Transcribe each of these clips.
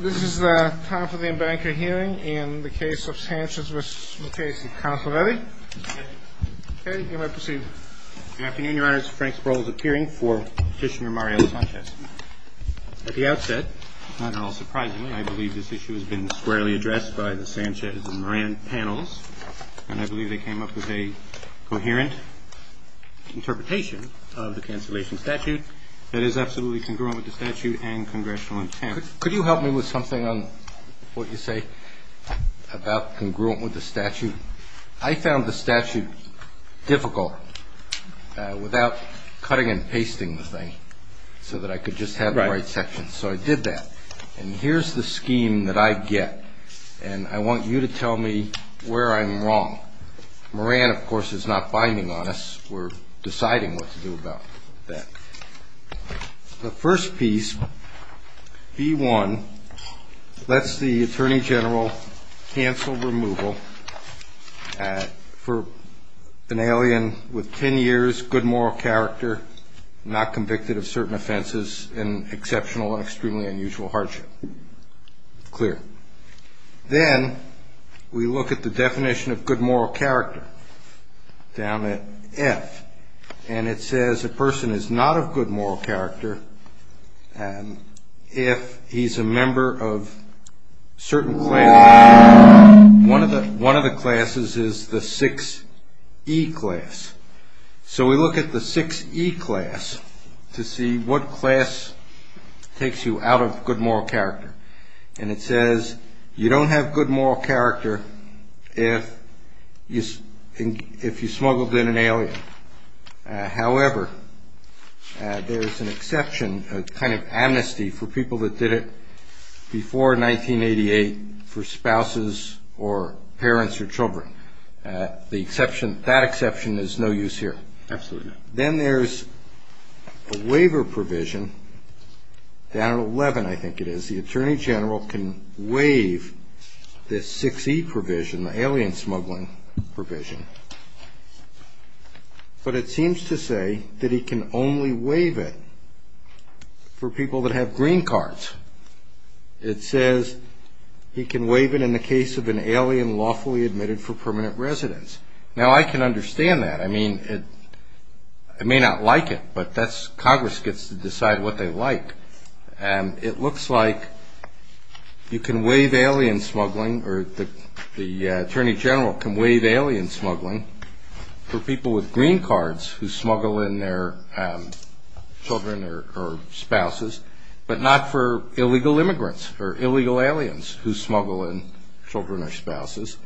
This is time for the embankment hearing in the case of Sanchez v. McCasey. Counsel ready? Okay. Okay, you may proceed. Good afternoon, your honors. Frank Sproul is appearing for Petitioner Mario Sanchez. At the outset, not at all surprisingly, I believe this issue has been squarely addressed by the Sanchez and Moran panels, and I believe they came up with a coherent interpretation of the cancellation statute that is absolutely congruent with the statute and congressional intent. Could you help me with something on what you say about congruent with the statute? I found the statute difficult without cutting and pasting the thing so that I could just have the right section. So I did that. And here's the scheme that I get, and I want you to tell me where I'm wrong. Moran, of course, is not binding on us. We're deciding what to do about that. The first piece, B-1, lets the attorney general cancel removal for an alien with 10 years good moral character, not convicted of certain offenses in exceptional and extremely unusual hardship. Clear. Then we look at the definition of good moral character down at F, and it says a person is not of good moral character if he's a member of certain classes. One of the classes is the 6E class. So we look at the 6E class to see what class takes you out of good moral character, and it says you don't have good moral character if you smuggled in an alien. However, there's an exception, a kind of amnesty for people that did it before 1988 for spouses or parents or children. That exception is no use here. Absolutely. Then there's a waiver provision down at 11, I think it is. The attorney general can waive this 6E provision, the alien smuggling provision, but it seems to say that he can only waive it for people that have green cards. It says he can waive it in the case of an alien lawfully admitted for permanent residence. Now, I can understand that. I mean, it may not like it, but Congress gets to decide what they like. And it looks like you can waive alien smuggling, or the attorney general can waive alien smuggling, for people with green cards who smuggle in their children or spouses, but not for illegal immigrants or illegal aliens who smuggle in children or spouses.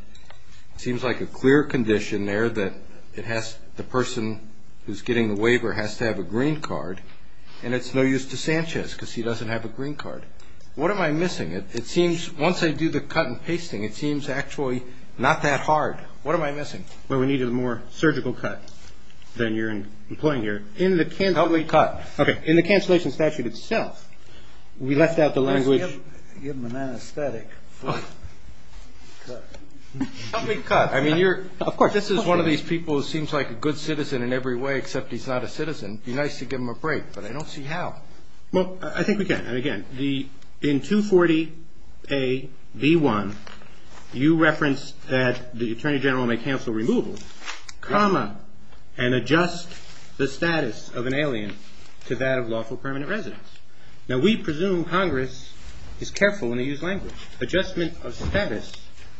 It seems like a clear condition there that the person who's getting the waiver has to have a green card, and it's no use to Sanchez because he doesn't have a green card. What am I missing? It seems, once I do the cut and pasting, it seems actually not that hard. What am I missing? Well, we needed a more surgical cut than you're employing here. In the cancellation statute itself, we left out the language. Give him an anesthetic for the cut. Help me cut. Of course. This is one of these people who seems like a good citizen in every way, except he's not a citizen. It would be nice to give him a break, but I don't see how. Well, I think we can. And, again, in 240A.V.1, you reference that the attorney general may cancel removal, comma, and adjust the status of an alien to that of lawful permanent residence. Now, we presume Congress is careful when they use language. Adjustment of status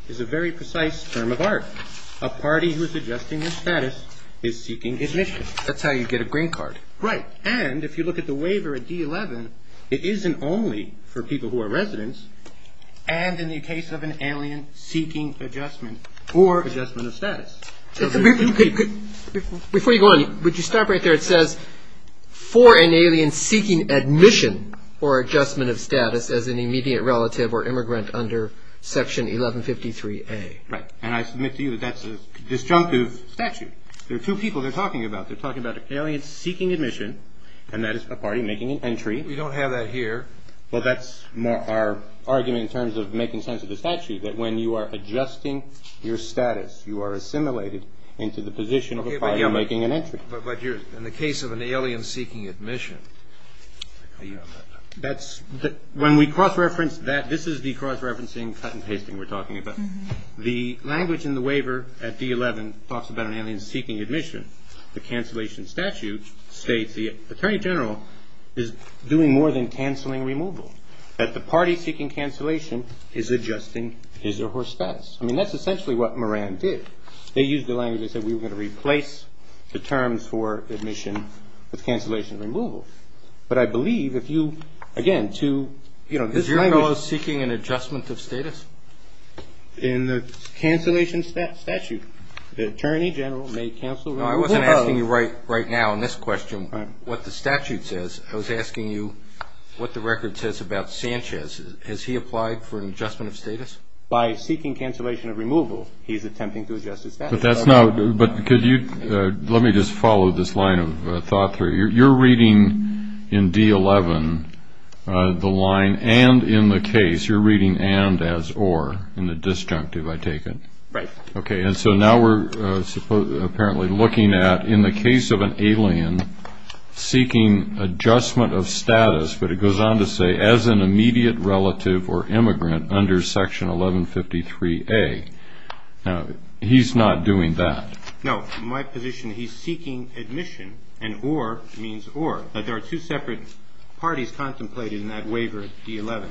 is a very precise term of art. A party who is adjusting their status is seeking admission. That's how you get a green card. Right. And if you look at the waiver at D11, it isn't only for people who are residents, Before you go on, would you stop right there? It says, for an alien seeking admission or adjustment of status as an immediate relative or immigrant under Section 1153A. Right. And I submit to you that that's a disjunctive statute. There are two people they're talking about. They're talking about an alien seeking admission, and that is a party making an entry. We don't have that here. Well, that's our argument in terms of making sense of the statute, that when you are adjusting your status, you are assimilated into the position of a party making an entry. But in the case of an alien seeking admission, that's when we cross-reference that. This is the cross-referencing cut and pasting we're talking about. The language in the waiver at D11 talks about an alien seeking admission. The cancellation statute states the attorney general is doing more than canceling removal, that the party seeking cancellation is adjusting his or her status. I mean, that's essentially what Moran did. They used the language, they said we were going to replace the terms for admission with cancellation removal. But I believe if you, again, to, you know, this language. Is your fellow seeking an adjustment of status? In the cancellation statute, the attorney general may cancel removal. No, I wasn't asking you right now in this question what the statute says. I was asking you what the record says about Sanchez. Has he applied for an adjustment of status? By seeking cancellation of removal, he's attempting to adjust his status. But that's not what we're doing. But could you, let me just follow this line of thought through. You're reading in D11 the line, and in the case, you're reading and as or in the disjunctive, I take it. Right. Okay. And so now we're apparently looking at in the case of an alien seeking adjustment of status, but it goes on to say as an immediate relative or immigrant under Section 1153A. Now, he's not doing that. No. My position, he's seeking admission, and or means or. But there are two separate parties contemplated in that waiver, D11.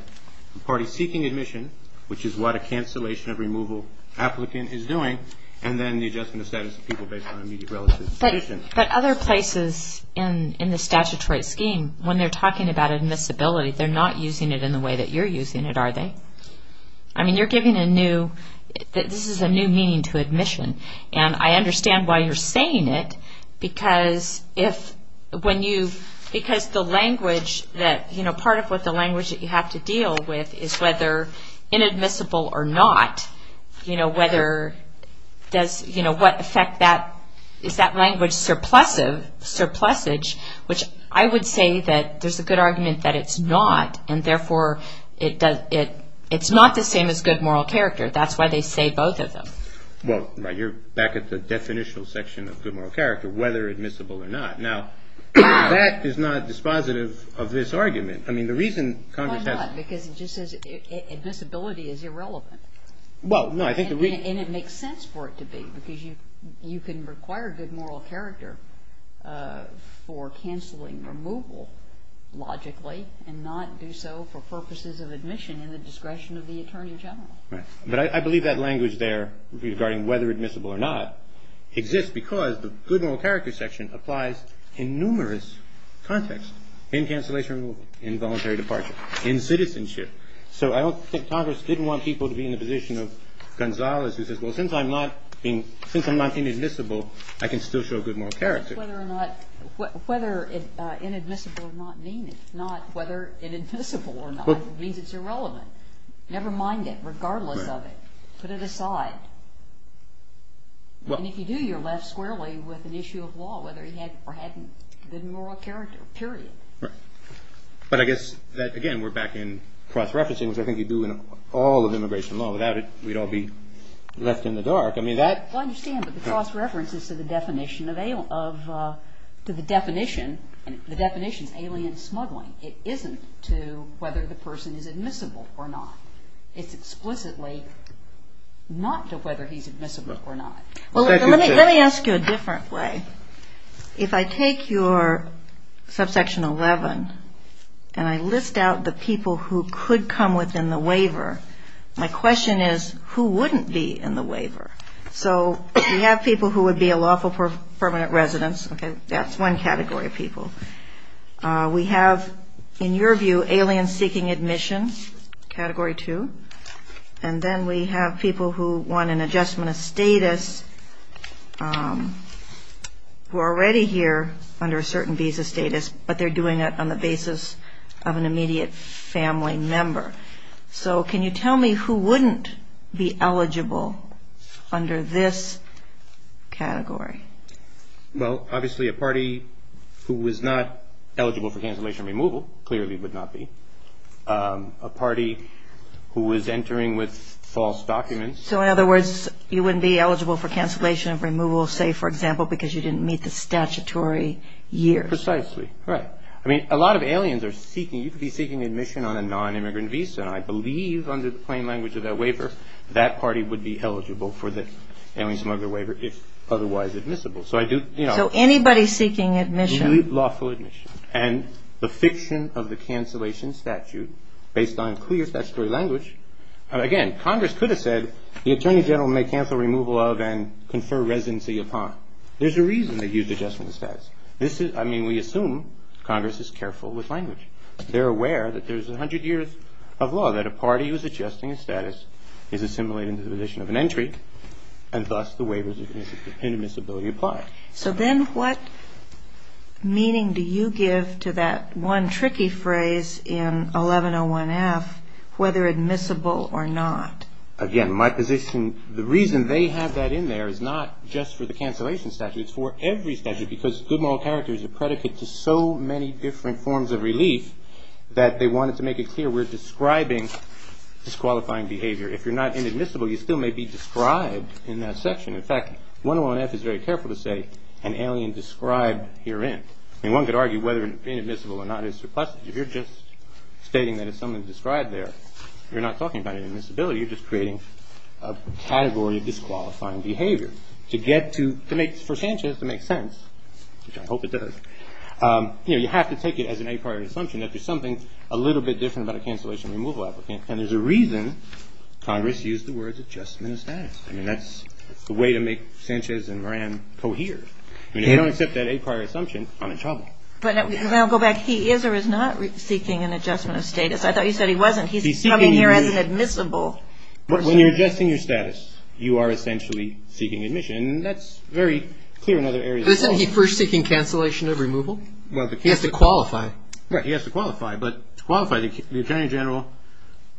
The party seeking admission, which is what a cancellation of removal applicant is doing, and then the adjustment of status of people based on immediate relative position. But other places in the statutory scheme, when they're talking about admissibility, they're not using it in the way that you're using it, are they? I mean, you're giving a new, this is a new meaning to admission, and I understand why you're saying it, because if when you, because the language that, you know, part of what the language that you have to deal with is whether inadmissible or not, you know, whether does, you know, what effect that, is that language surplusage, which I would say that there's a good argument that it's not, and therefore it's not the same as good moral character. That's why they say both of them. Well, you're back at the definitional section of good moral character, whether admissible or not. Now, that is not dispositive of this argument. I mean, the reason Congress has. Why not? Because it just says admissibility is irrelevant. Well, no, I think the reason. And it makes sense for it to be, because you can require good moral character for canceling removal, logically, and not do so for purposes of admission in the discretion of the Attorney General. Right. But I believe that language there regarding whether admissible or not exists because the good moral character section applies in numerous contexts, in cancellation removal, in voluntary departure, in citizenship. So I don't think Congress didn't want people to be in the position of Gonzales, who says, well, since I'm not being, since I'm not inadmissible, I can still show good moral character. That's whether or not, whether inadmissible or not mean it, not whether inadmissible or not. It means it's irrelevant. Never mind it, regardless of it. Put it aside. And if you do, you're left squarely with an issue of law, whether he had or hadn't been moral character, period. Right. But I guess that, again, we're back in cross-referencing, which I think you do in all of immigration law. Without it, we'd all be left in the dark. I mean, that. Well, I understand, but the cross-reference is to the definition of, to the definition, and the definition is alien smuggling. It isn't to whether the person is admissible or not. It's explicitly not to whether he's admissible or not. Well, let me ask you a different way. If I take your subsection 11 and I list out the people who could come within the waiver, my question is, who wouldn't be in the waiver? So we have people who would be a lawful permanent residence. Okay. That's one category of people. We have, in your view, alien seeking admission, Category 2. And then we have people who want an adjustment of status who are already here under a certain visa status, but they're doing it on the basis of an immediate family member. So can you tell me who wouldn't be eligible under this category? Well, obviously a party who was not eligible for cancellation removal clearly would not be. A party who was entering with false documents. So, in other words, you wouldn't be eligible for cancellation of removal, say, for example, because you didn't meet the statutory year. Precisely, right. I mean, a lot of aliens are seeking, you could be seeking admission on a non-immigrant visa, and I believe under the plain language of that waiver, that party would be eligible for the alien smuggler waiver if otherwise admissible. So anybody seeking admission. Lawful admission. And the fiction of the cancellation statute, based on clear statutory language, again, Congress could have said the Attorney General may cancel removal of and confer residency upon. There's a reason they used adjustment of status. I mean, we assume Congress is careful with language. They're aware that there's 100 years of law, that a party who is adjusting a status is assimilating to the position of an entry, and thus the waivers of inadmissibility apply. So then what meaning do you give to that one tricky phrase in 1101F, whether admissible or not? Again, my position, the reason they have that in there is not just for the cancellation statute. It's for every statute because good moral character is a predicate to so many different forms of relief that they wanted to make it clear we're describing disqualifying behavior. If you're not inadmissible, you still may be described in that section. In fact, 101F is very careful to say an alien described herein. I mean, one could argue whether inadmissible or not is surplus. If you're just stating that it's something described there, you're not talking about inadmissibility. You're just creating a category of disqualifying behavior. For Sanchez to make sense, which I hope it does, you have to take it as an a prior assumption that there's something a little bit different about a cancellation removal applicant, and there's a reason Congress used the words adjustment of status. I mean, that's the way to make Sanchez and Moran cohere. I mean, if you don't accept that a prior assumption, I'm in trouble. But I'll go back. He is or is not seeking an adjustment of status. I thought you said he wasn't. He's coming here as an admissible. When you're adjusting your status, you are essentially seeking admission. And that's very clear in other areas. Isn't he first seeking cancellation of removal? He has to qualify. Right. He has to qualify. But to qualify, the attorney general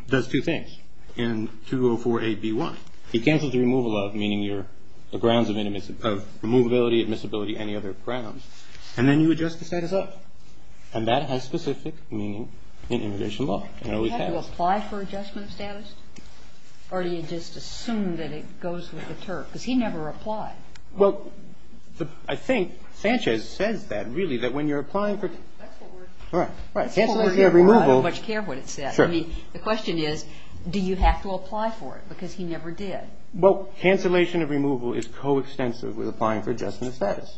does two things in 2048B1. He cancels the removal of, meaning the grounds of removability, admissibility, any other grounds. And then you adjust the status of. And that has specific meaning in immigration law. And it always has. Do you have to apply for adjustment of status? Or do you just assume that it goes with the term? Because he never applied. Well, I think Sanchez says that, really, that when you're applying for. That's what we're. Cancellation of removal. That's what we're here for. I don't much care what it says. Sure. I mean, the question is, do you have to apply for it? Because he never did. Well, cancellation of removal is coextensive with applying for adjustment of status.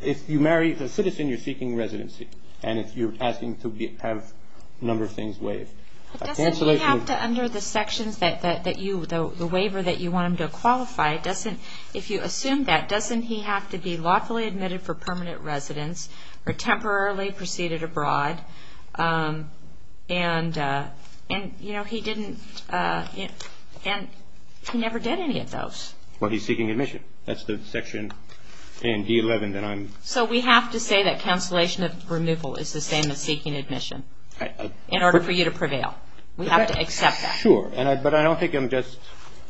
If you marry the citizen, you're seeking residency. And if you're asking to have a number of things waived. But doesn't he have to, under the sections that you, the waiver that you want him to qualify, doesn't, if you assume that, doesn't he have to be lawfully admitted for permanent residence or temporarily proceeded abroad? And, you know, he didn't. And he never did any of those. Well, he's seeking admission. That's the section in D11 that I'm. So we have to say that cancellation of removal is the same as seeking admission. In order for you to prevail. We have to accept that. Sure. But I don't think I'm just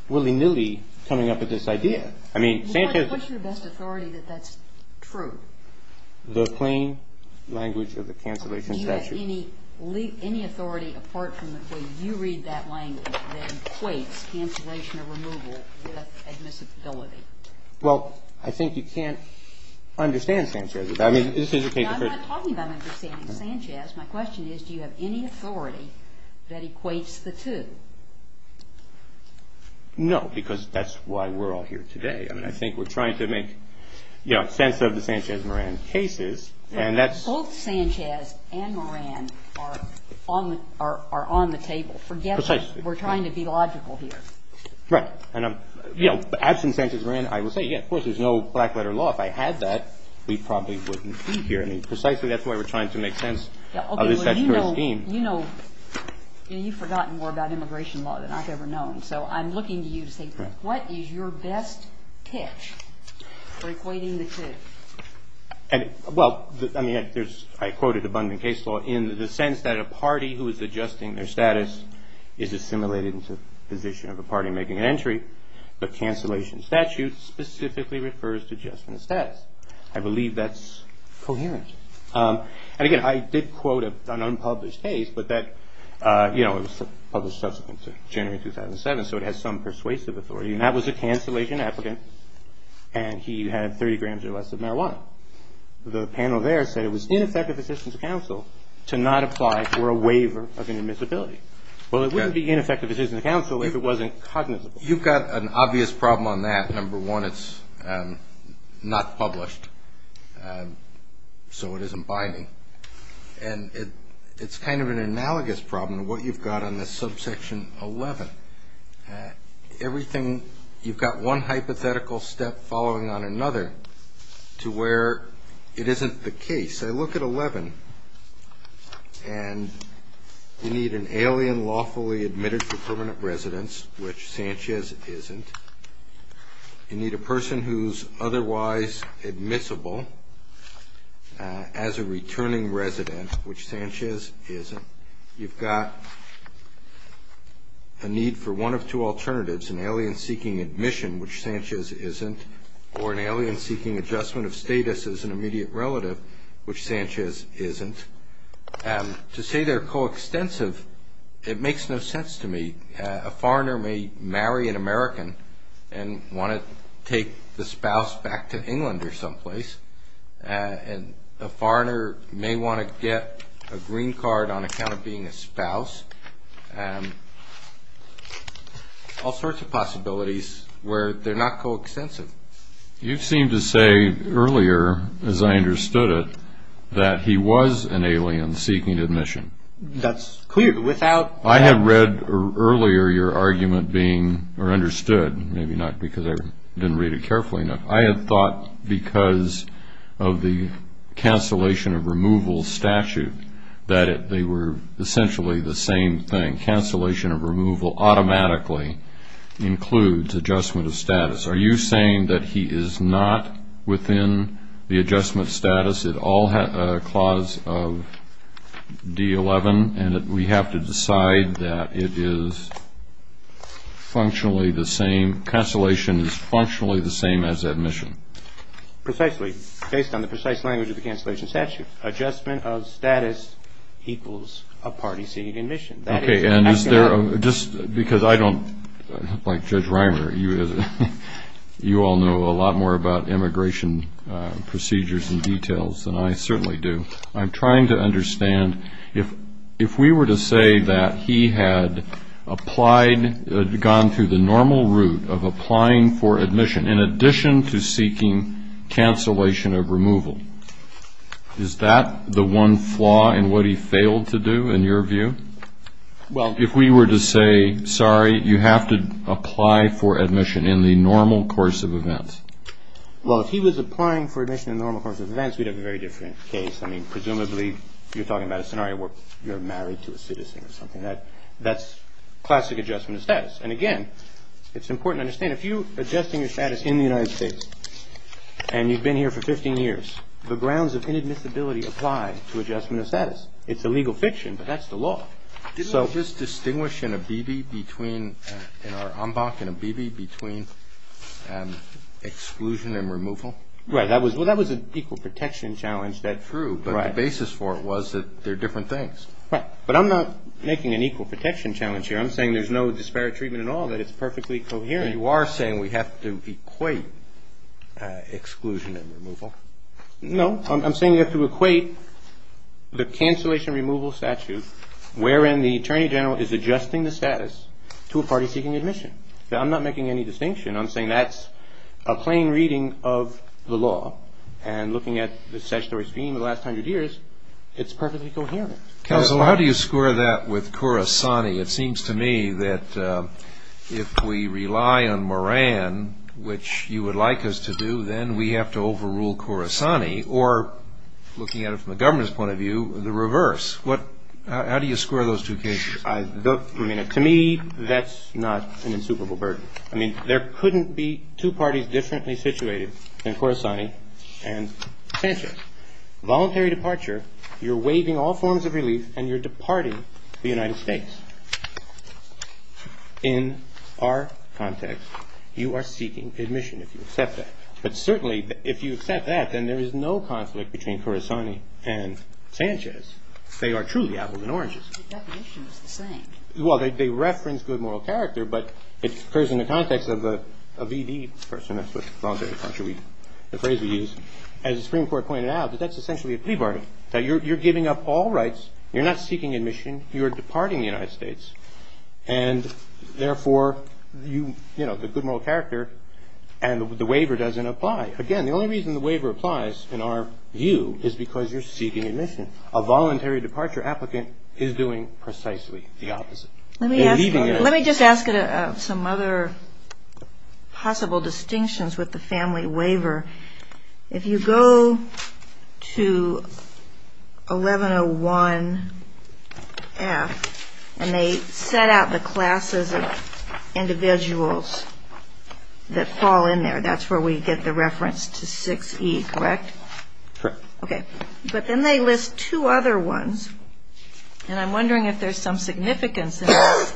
willy-nilly coming up with this idea. I mean, Sanchez. What's your best authority that that's true? The plain language of the cancellation statute. Do you have any authority, apart from the way you read that language, that equates cancellation of removal with admissibility? Well, I think you can't understand Sanchez. I mean, this is. I'm not talking about understanding Sanchez. My question is, do you have any authority that equates the two? No. Because that's why we're all here today. I mean, I think we're trying to make, you know, sense of the Sanchez Moran cases. And that's. Both Sanchez and Moran are on the table. Precisely. We're trying to be logical here. Right. And, you know, absent Sanchez Moran, I would say, yeah, of course, there's no black letter law. If I had that, we probably wouldn't be here. I mean, precisely that's why we're trying to make sense of this statutory scheme. You know, you've forgotten more about immigration law than I've ever known. So I'm looking to you to say, what is your best pitch for equating the two? Well, I mean, I quoted abundant case law in the sense that a party who is adjusting their status is assimilated into the position of a party making an entry, but cancellation statute specifically refers to adjustment of status. I believe that's coherent. And, again, I did quote an unpublished case, but that, you know, it was published subsequent to January 2007, so it has some persuasive authority. And that was a cancellation applicant, and he had 30 grams or less of marijuana. The panel there said it was ineffective assistance of counsel to not apply for a waiver of an admissibility. Well, it wouldn't be ineffective assistance of counsel if it wasn't cognizable. You've got an obvious problem on that. Number one, it's not published, so it isn't binding. And it's kind of an analogous problem to what you've got on this subsection 11. Everything you've got one hypothetical step following on another to where it isn't the case. I look at 11, and you need an alien lawfully admitted for permanent residence, which Sanchez isn't. You need a person who's otherwise admissible as a returning resident, which Sanchez isn't. You've got a need for one of two alternatives, an alien seeking admission, which Sanchez isn't, or an alien seeking adjustment of status as an immediate relative, which Sanchez isn't. To say they're coextensive, it makes no sense to me. A foreigner may marry an American and want to take the spouse back to England or someplace, and a foreigner may want to get a green card on account of being a spouse. All sorts of possibilities where they're not coextensive. You seemed to say earlier, as I understood it, that he was an alien seeking admission. That's clear. I have read earlier your argument being understood, maybe not because I didn't read it carefully enough. I have thought because of the cancellation of removal statute that they were essentially the same thing. Cancellation of removal automatically includes adjustment of status. Are you saying that he is not within the adjustment status clause of D11 and that we have to decide that cancellation is functionally the same as admission? Precisely, based on the precise language of the cancellation statute. Adjustment of status equals a party seeking admission. Okay, and is there, just because I don't, like Judge Reimer, you all know a lot more about immigration procedures and details than I certainly do. I'm trying to understand, if we were to say that he had applied, gone through the normal route of applying for admission in addition to seeking cancellation of removal, is that the one flaw in what he failed to do, in your view? Well, if we were to say, sorry, you have to apply for admission in the normal course of events. Well, if he was applying for admission in the normal course of events, we'd have a very different case. I mean, presumably, you're talking about a scenario where you're married to a citizen or something. That's classic adjustment of status. And again, it's important to understand, if you're adjusting your status in the United States and you've been here for 15 years, the grounds of inadmissibility apply to adjustment of status. It's a legal fiction, but that's the law. Didn't you just distinguish in a B.B. between exclusion and removal? Right. Well, that was an equal protection challenge. True. But the basis for it was that they're different things. Right. But I'm not making an equal protection challenge here. I'm saying there's no disparate treatment at all, that it's perfectly coherent. You are saying we have to equate exclusion and removal. No. I'm saying we have to equate the cancellation removal statute, wherein the attorney general is adjusting the status to a party seeking admission. I'm not making any distinction. I'm saying that's a plain reading of the law. And looking at the statutory scheme of the last 100 years, it's perfectly coherent. Counsel, how do you score that with Khorasani? It seems to me that if we rely on Moran, which you would like us to do, then we have to overrule Khorasani. Or looking at it from the government's point of view, the reverse. How do you score those two cases? To me, that's not an insuperable burden. I mean, there couldn't be two parties differently situated than Khorasani and Sanchez. Voluntary departure, you're waiving all forms of relief and you're departing the United States. In our context, you are seeking admission if you accept that. But certainly, if you accept that, then there is no conflict between Khorasani and Sanchez. They are truly apples and oranges. But the definition is the same. Well, they reference good moral character, but it occurs in the context of a V.D. person. That's the phrase we use. As the Supreme Court pointed out, that's essentially a plea bargain. You're giving up all rights. You're not seeking admission. You are departing the United States. And therefore, you know, the good moral character and the waiver doesn't apply. Again, the only reason the waiver applies, in our view, is because you're seeking admission. A voluntary departure applicant is doing precisely the opposite. Let me just ask some other possible distinctions with the family waiver. If you go to 1101F and they set out the classes of individuals that fall in there, that's where we get the reference to 6E, correct? Correct. Okay. But then they list two other ones, and I'm wondering if there's some significance in this.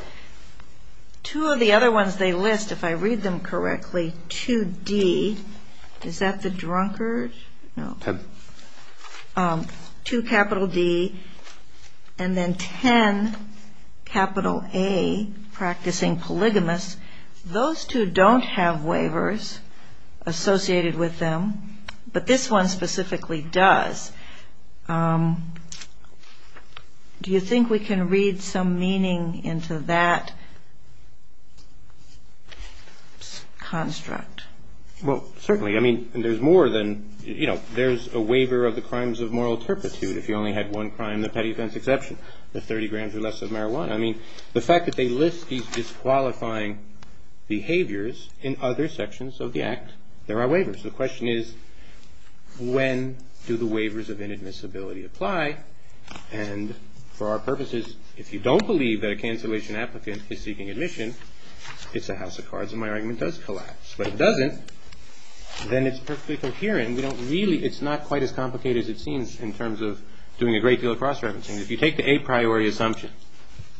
Two of the other ones they list, if I read them correctly, 2D. Is that the drunkard? No. 2 capital D and then 10 capital A, practicing polygamists. Those two don't have waivers associated with them, but this one specifically does. Do you think we can read some meaning into that construct? Well, certainly. I mean, there's more than, you know, there's a waiver of the crimes of moral turpitude. If you only had one crime, the petty offense exception, the 30 grams or less of marijuana. I mean, the fact that they list these disqualifying behaviors in other sections of the Act, there are waivers. The question is, when do the waivers of inadmissibility apply? And for our purposes, if you don't believe that a cancellation applicant is seeking admission, it's a house of cards and my argument does collapse. But if it doesn't, then it's perfectly coherent. We don't really, it's not quite as complicated as it seems in terms of doing a great deal of cross-referencing. If you take the a priori assumption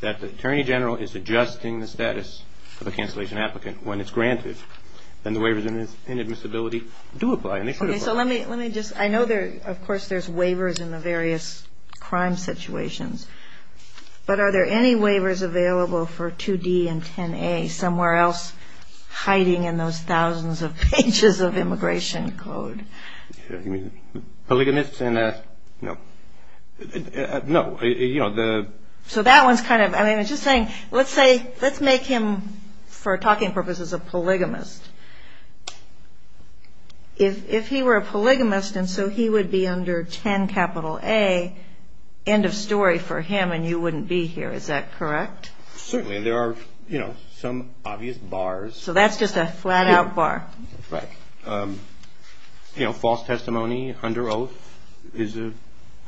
that the Attorney General is adjusting the status of a cancellation applicant when it's granted, then the waivers of inadmissibility do apply and they should apply. Okay, so let me just, I know there, of course, there's waivers in the various crime situations, but are there any waivers available for 2D and 10A somewhere else hiding in those thousands of pages of immigration code? Polygamists and, no. No, you know, the... So that one's kind of, I mean, it's just saying, let's say, let's make him, for talking purposes, a polygamist. If he were a polygamist and so he would be under 10A, end of story for him and you wouldn't be here, is that correct? Certainly, and there are, you know, some obvious bars. So that's just a flat-out bar. Right. You know, false testimony under oath is a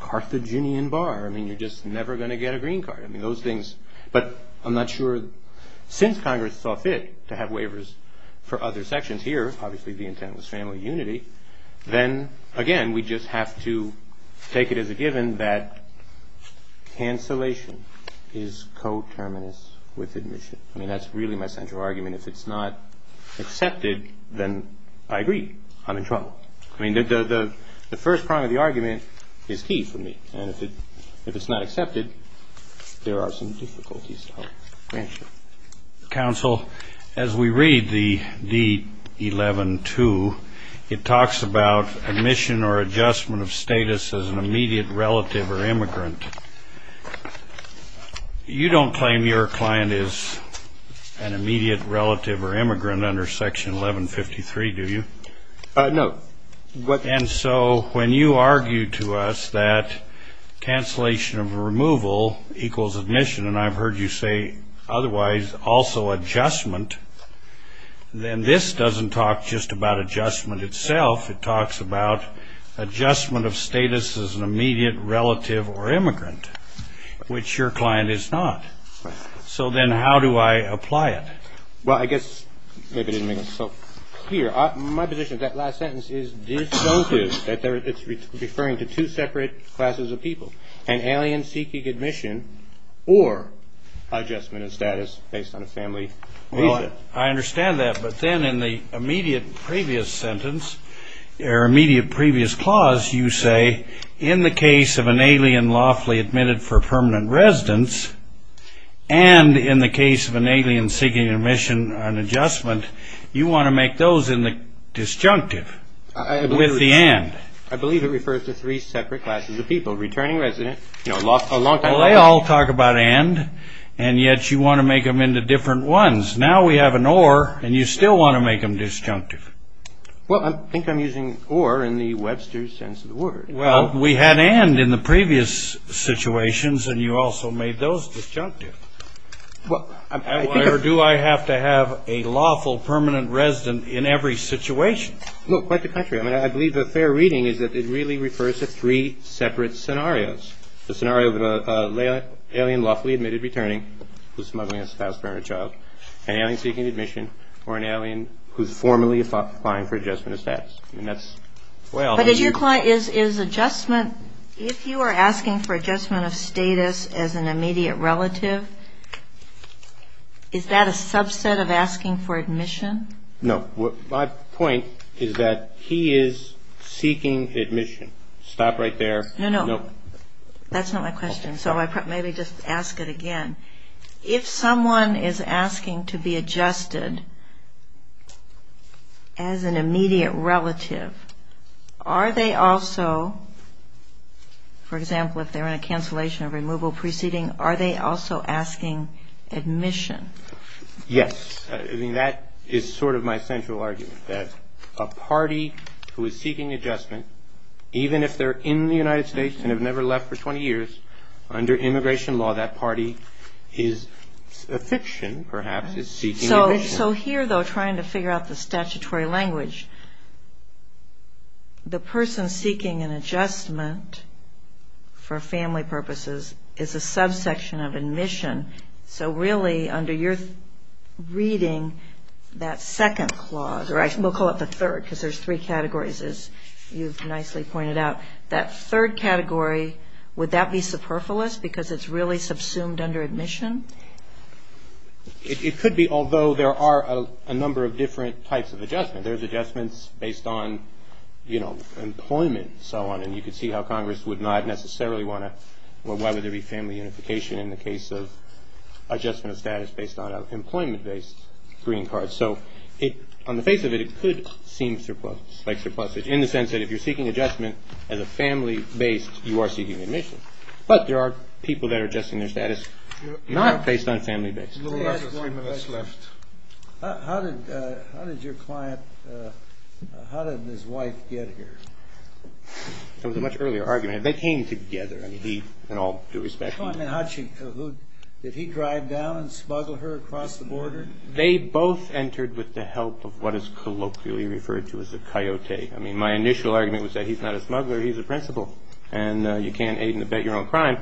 Carthaginian bar. I mean, you're just never going to get a green card. I mean, those things, but I'm not sure, since Congress saw fit to have waivers for other sections here, obviously the intent was family unity, then, again, we just have to take it as a given that cancellation is coterminous with admission. I mean, that's really my central argument. If it's not accepted, then I agree. I'm in trouble. I mean, the first part of the argument is key for me, and if it's not accepted, there are some difficulties. Counsel, as we read the D-11-2, it talks about admission or adjustment of status as an immediate relative or immigrant. You don't claim your client is an immediate relative or immigrant under Section 1153, do you? No. And so when you argue to us that cancellation of removal equals admission, and I've heard you say otherwise, also adjustment, then this doesn't talk just about adjustment itself. It talks about adjustment of status as an immediate relative or immigrant, which your client is not. So then how do I apply it? Well, I guess maybe it didn't make sense. Peter, my position is that last sentence is disjunctive, that it's referring to two separate classes of people, an alien seeking admission or adjustment of status based on a family reason. I understand that, but then in the immediate previous sentence, or immediate previous clause, you say in the case of an alien lawfully admitted for permanent residence and in the case of an alien seeking admission and adjustment, you want to make those disjunctive with the and. I believe it refers to three separate classes of people, returning residents, you know, a long-time resident. Well, they all talk about and, and yet you want to make them into different ones. Now we have an or, and you still want to make them disjunctive. Well, I think I'm using or in the Webster's sense of the word. Well, we had and in the previous situations, and you also made those disjunctive. Why do I have to have a lawful permanent resident in every situation? Look, quite the contrary. I mean, I believe the fair reading is that it really refers to three separate scenarios, the scenario of an alien lawfully admitted returning who's smuggling a spouse for a child, an alien seeking admission, or an alien who's formally applying for adjustment of status. And that's, well. But is your client, is adjustment, if you are asking for adjustment of status as an immediate relative, is that a subset of asking for admission? No. My point is that he is seeking admission. Stop right there. No, no. That's not my question, so I might maybe just ask it again. If someone is asking to be adjusted as an immediate relative, are they also, for example, if they're in a cancellation or removal proceeding, are they also asking admission? Yes. I mean, that is sort of my central argument, that a party who is seeking adjustment, even if they're in the United States and have never left for 20 years, under immigration law, that party is a fiction, perhaps, is seeking admission. So here, though, trying to figure out the statutory language, the person seeking an adjustment for family purposes is a subsection of admission. So really, under your reading, that second clause, or we'll call it the third because there's three categories, as you've nicely pointed out, that third category, would that be superfluous because it's really subsumed under admission? It could be, although there are a number of different types of adjustment. There's adjustments based on, you know, employment and so on, and you can see how Congress would not necessarily want to or why would there be family unification in the case of adjustment of status based on an employment-based green card. So on the face of it, it could seem surplus, like surplusage, in the sense that if you're seeking adjustment as a family-based, you are seeking admission. But there are people that are adjusting their status not based on family-based. We have three minutes left. How did your client, how did his wife get here? That was a much earlier argument. They came together, and he, in all due respect. Did he drive down and smuggle her across the border? They both entered with the help of what is colloquially referred to as a coyote. I mean, my initial argument was that he's not a smuggler, he's a principal, and you can't aid and abet your own crime.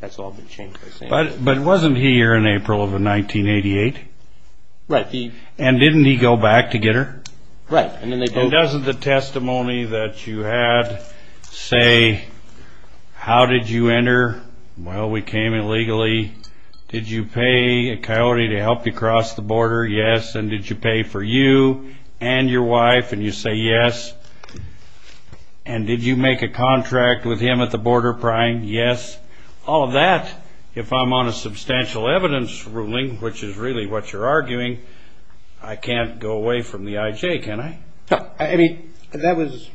That's all been changed. But wasn't he here in April of 1988? Right. And didn't he go back to get her? Right. And doesn't the testimony that you had say, how did you enter? Well, we came illegally. Did you pay a coyote to help you cross the border? Yes. And did you pay for you and your wife? And you say yes. And did you make a contract with him at the border prime? Yes. All of that, if I'm on a substantial evidence ruling, which is really what you're arguing, I can't go away from the IJ, can I? No. I mean, that was,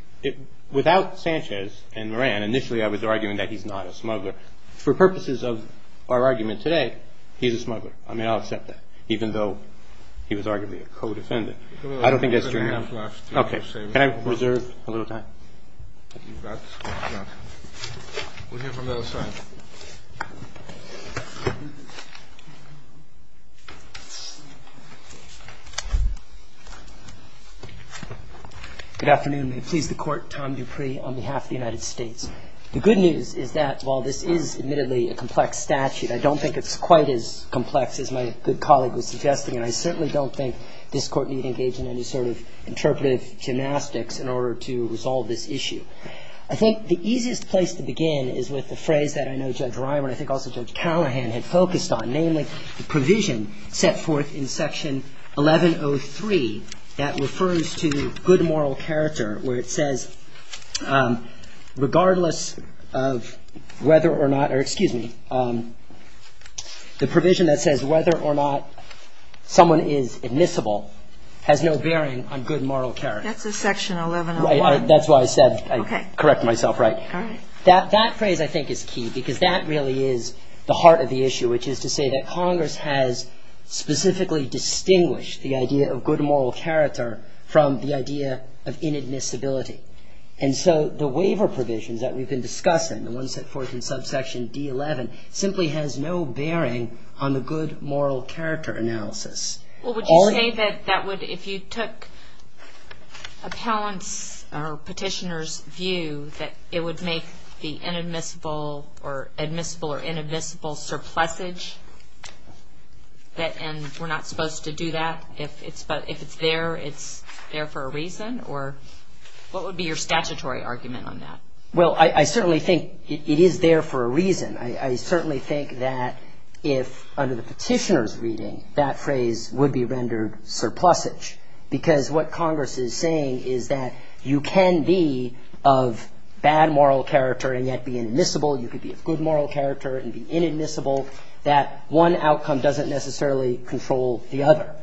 without Sanchez and Moran, initially I was arguing that he's not a smuggler. For purposes of our argument today, he's a smuggler. I mean, I'll accept that, even though he was arguably a co-defendant. I don't think that's true. Okay. Can I reserve a little time? If you've got that. We'll hear from the other side. Good afternoon. May it please the Court. Tom Dupree on behalf of the United States. The good news is that while this is admittedly a complex statute, I don't think it's quite as complex as my good colleague was suggesting, and I certainly don't think this Court need engage in any sort of interpretive gymnastics in order to resolve this issue. I think the easiest place to begin is with the phrase that I know Judge Reimer and I think also Judge Callahan had focused on, namely the provision set forth in Section 1103 that refers to good moral character, where it says regardless of whether or not, or excuse me, the provision that says whether or not someone is admissible has no bearing on good moral character. That's in Section 1101. Right. That's why I said I'd correct myself. Right. All right. That phrase I think is key because that really is the heart of the issue, which is to say that Congress has specifically distinguished the idea of good moral character from the idea of inadmissibility. And so the waiver provisions that we've been discussing, the ones set forth in subsection D11, simply has no bearing on the good moral character analysis. Well, would you say that that would, if you took appellants' or petitioners' view, that it would make the inadmissible or admissible or inadmissible surplusage, and we're not supposed to do that? If it's there, it's there for a reason? Or what would be your statutory argument on that? Well, I certainly think it is there for a reason. I certainly think that if, under the petitioner's reading, that phrase would be rendered surplusage, because what Congress is saying is that you can be of bad moral character and yet be inadmissible, you could be of good moral character and be inadmissible, that one outcome doesn't necessarily control the other.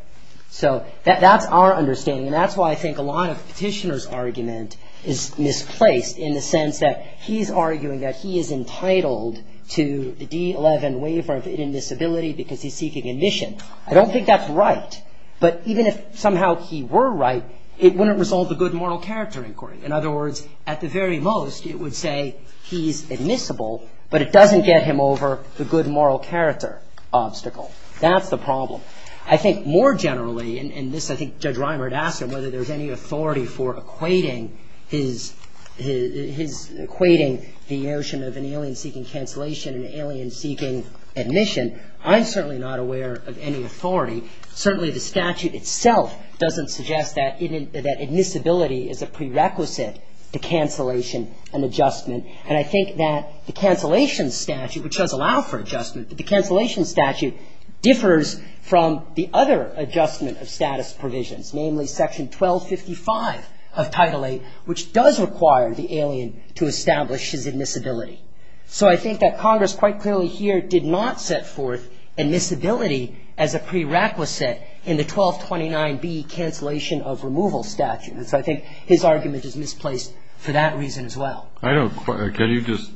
So that's our understanding, and that's why I think a lot of the petitioner's argument is misplaced, in the sense that he's arguing that he is entitled to the D11 waiver of inadmissibility because he's seeking admission. I don't think that's right, but even if somehow he were right, it wouldn't resolve the good moral character inquiry. In other words, at the very most, it would say he's admissible, but it doesn't get him over the good moral character obstacle. That's the problem. I think more generally, and this, I think, Judge Reimer had asked him whether there's any authority for equating his, equating the notion of an alien seeking cancellation and an alien seeking admission. I'm certainly not aware of any authority. Certainly the statute itself doesn't suggest that admissibility is a prerequisite to cancellation and adjustment. And I think that the cancellation statute, which does allow for adjustment, but the cancellation statute differs from the other adjustment of status provisions, namely Section 1255 of Title VIII, which does require the alien to establish his admissibility. So I think that Congress quite clearly here did not set forth admissibility as a prerequisite in the 1229B cancellation of removal statute. And so I think his argument is misplaced for that reason as well. I don't quite, can you just,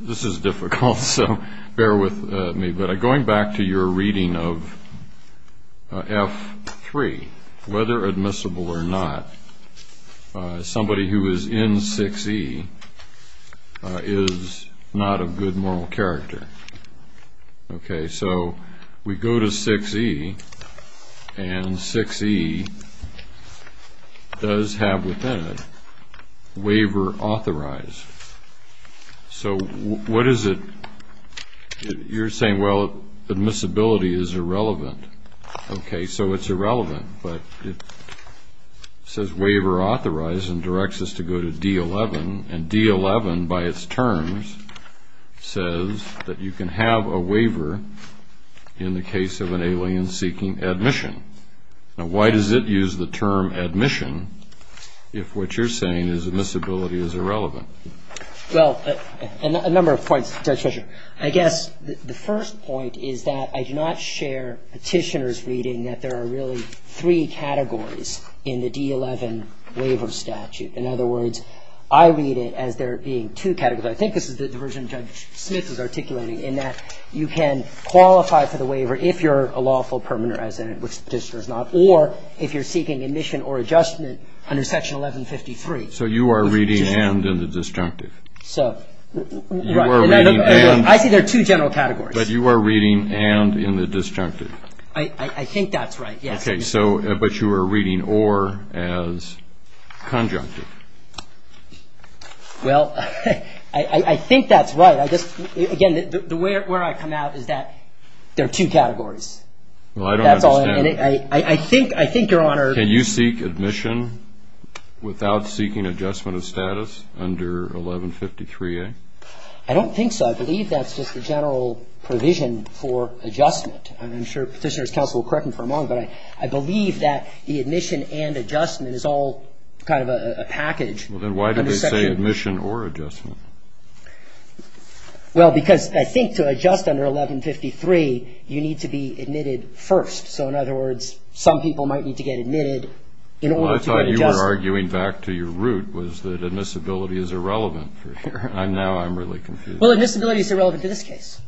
this is difficult, so bear with me. But going back to your reading of F3, whether admissible or not, somebody who is in 6E is not of good moral character. Okay, so we go to 6E, and 6E does have within it waiver authorized. So what is it, you're saying, well, admissibility is irrelevant. Okay, so it's irrelevant, but it says waiver authorized and directs us to go to D11, and D11 by its terms says that you can have a waiver in the case of an alien seeking admission. Now, why does it use the term admission if what you're saying is admissibility is irrelevant? Well, a number of points, Judge Fischer. I guess the first point is that I do not share Petitioner's reading that there are really three categories in the D11 waiver statute. In other words, I read it as there being two categories. I think this is the version Judge Smith is articulating, in that you can qualify for the waiver if you're a lawful permanent resident, which Petitioner is not, or if you're seeking admission or adjustment under Section 1153. So you are reading and in the disjunctive. So, right. I see there are two general categories. But you are reading and in the disjunctive. I think that's right, yes. Okay, so, but you are reading or as conjunctive. Well, I think that's right. Again, the way where I come out is that there are two categories. Well, I don't understand. That's all. I think, Your Honor. Can you seek admission without seeking adjustment of status under 1153A? I don't think so. I believe that's just the general provision for adjustment. I'm sure Petitioner's counsel will correct me for a moment, but I believe that the admission and adjustment is all kind of a package. Well, then why do they say admission or adjustment? Well, because I think to adjust under 1153, you need to be admitted first. So, in other words, some people might need to get admitted in order to get adjusted. Well, I thought you were arguing back to your root, was that admissibility is irrelevant for sure. Now I'm really confused. Well, admissibility is irrelevant to this case.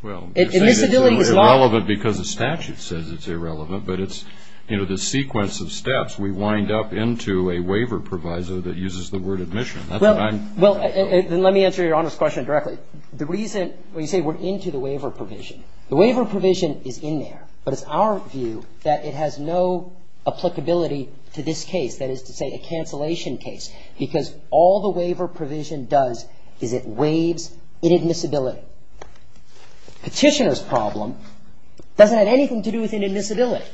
Well, you say it's irrelevant because the statute says it's irrelevant, but it's, you know, the sequence of steps. We wind up into a waiver provisor that uses the word admission. Well, then let me answer Your Honor's question directly. The reason when you say we're into the waiver provision, the waiver provision is in there, but it's our view that it has no applicability to this case, that is to say a cancellation case, because all the waiver provision does is it waives inadmissibility. Petitioner's problem doesn't have anything to do with inadmissibility.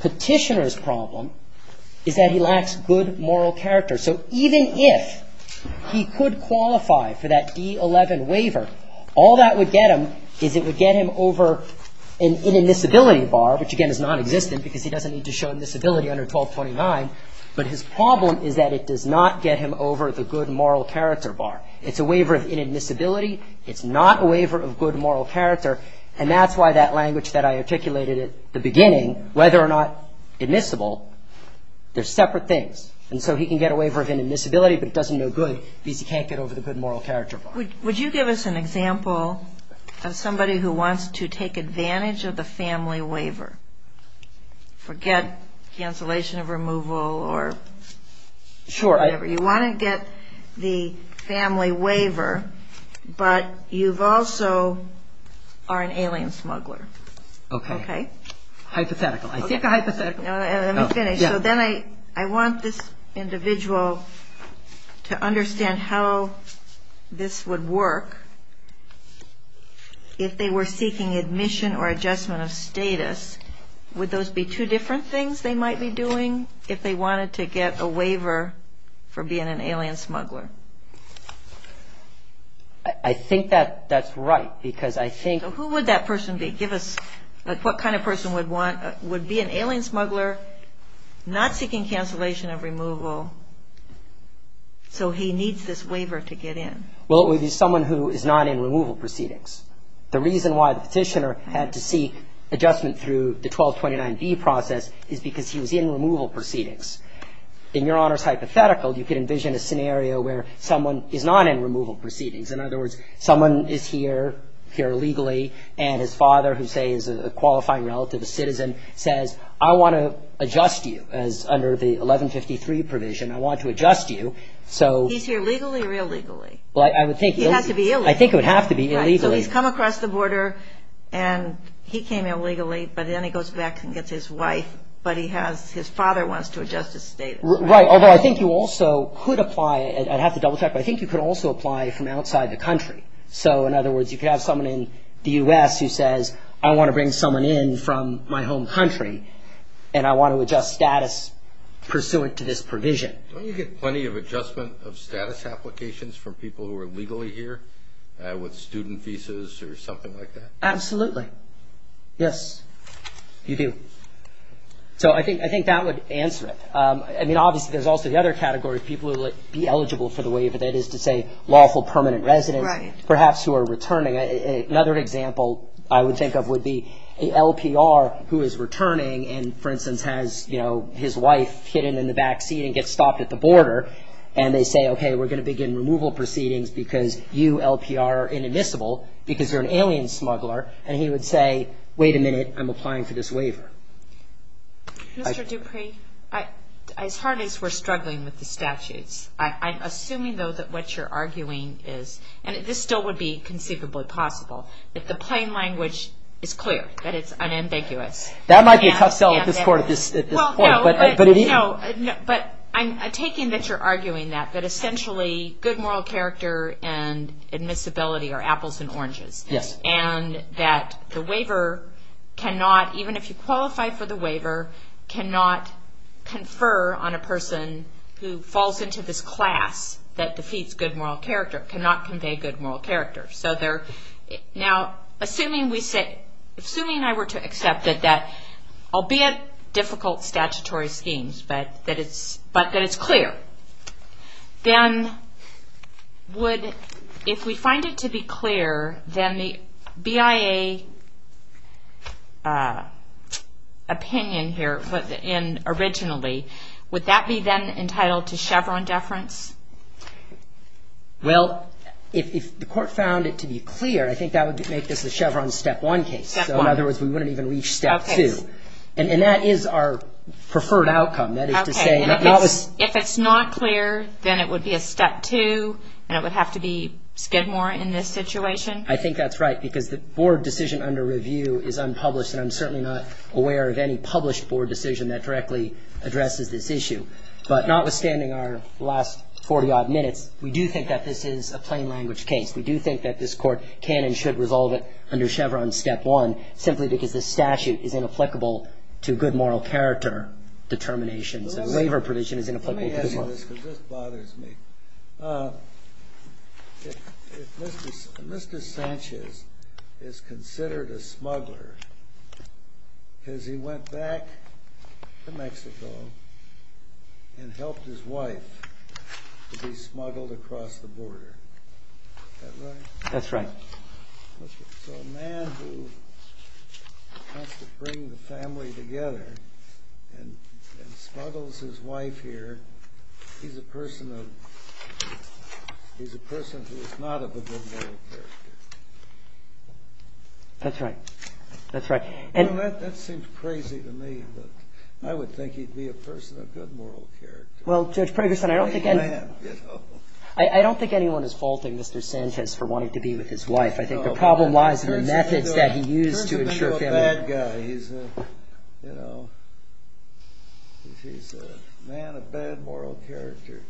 Petitioner's problem is that he lacks good moral character. So even if he could qualify for that D-11 waiver, all that would get him is it would get him over an inadmissibility bar, which again is nonexistent because he doesn't need to show inadmissibility under 1229, but his problem is that it does not get him over the good moral character bar. It's a waiver of inadmissibility. It's not a waiver of good moral character, and that's why that language that I articulated at the beginning, whether or not admissible, they're separate things. And so he can get a waiver of inadmissibility, but it doesn't do good because he can't get over the good moral character bar. Would you give us an example of somebody who wants to take advantage of the family waiver, forget cancellation of removal or whatever? Sure. You want to get the family waiver, but you've also are an alien smuggler. Okay. Okay? Hypothetical. I seek a hypothetical. Let me finish. So then I want this individual to understand how this would work if they were seeking admission or adjustment of status. Would those be two different things they might be doing if they wanted to get a waiver for being an alien smuggler? I think that that's right because I think... So who would that person be? Give us what kind of person would be an alien smuggler not seeking cancellation of removal so he needs this waiver to get in? Well, it would be someone who is not in removal proceedings. The reason why the petitioner had to seek adjustment through the 1229B process is because he was in removal proceedings. In Your Honor's hypothetical, you could envision a scenario where someone is not in removal proceedings. In other words, someone is here, here legally, and his father who, say, is a qualifying relative, a citizen, says, I want to adjust you as under the 1153 provision. I want to adjust you so... He's here legally or illegally? Well, I would think... He has to be illegal. I think it would have to be illegal. So he's come across the border and he came illegally, but then he goes back and gets his wife, but his father wants to adjust his status. Right, although I think you also could apply, I'd have to double check, but I think you could also apply from outside the country. So, in other words, you could have someone in the U.S. who says, I want to bring someone in from my home country and I want to adjust status pursuant to this provision. Don't you get plenty of adjustment of status applications from people who are legally here with student visas or something like that? Absolutely. Yes, you do. So I think that would answer it. I mean, obviously, there's also the other category, people who would be eligible for the waiver, that is to say, lawful permanent residents, perhaps who are returning. Another example I would think of would be an LPR who is returning and, for instance, has his wife hidden in the backseat and gets stopped at the border and they say, okay, we're going to begin removal proceedings because you LPR are inadmissible because you're an alien smuggler, and he would say, wait a minute, I'm applying for this waiver. Mr. Dupree, as hard as we're struggling with the statutes, I'm assuming, though, that what you're arguing is, and this still would be conceivably possible, that the plain language is clear, that it's unambiguous. That might be a tough sell at this point. No, but I'm taking that you're arguing that, that essentially good moral character and admissibility are apples and oranges. Yes. And that the waiver cannot, even if you qualify for the waiver, cannot confer on a person who falls into this class that defeats good moral character, cannot convey good moral character. Now, assuming I were to accept that, albeit difficult statutory schemes, but that it's clear, then would, if we find it to be clear, then the BIA opinion here originally, would that be then entitled to Chevron deference? Well, if the court found it to be clear, I think that would make this a Chevron step one case. Step one. So, in other words, we wouldn't even reach step two. Okay. And that is our preferred outcome. Okay. If it's not clear, then it would be a step two, and it would have to be Skidmore in this situation. I think that's right, because the board decision under review is unpublished, and I'm certainly not aware of any published board decision that directly addresses this issue. But notwithstanding our last 40-odd minutes, we do think that this is a plain language case. We do think that this court can and should resolve it under Chevron step one, simply because this statute is inapplicable to good moral character determinations, and waiver provision is inapplicable to good moral character. Let me ask you this, because this bothers me. If Mr. Sanchez is considered a smuggler because he went back to Mexico and helped his wife to be smuggled across the border, is that right? That's right. So a man who wants to bring the family together and smuggles his wife here, he's a person who is not of a good moral character. That's right. That's right. That seems crazy to me, but I would think he'd be a person of good moral character. Well, Judge Pragerson, I don't think anyone is faulting Mr. Sanchez for wanting to be with his wife. I think the problem lies in the methods that he used to ensure family. He's a bad guy. He's a man of bad moral character.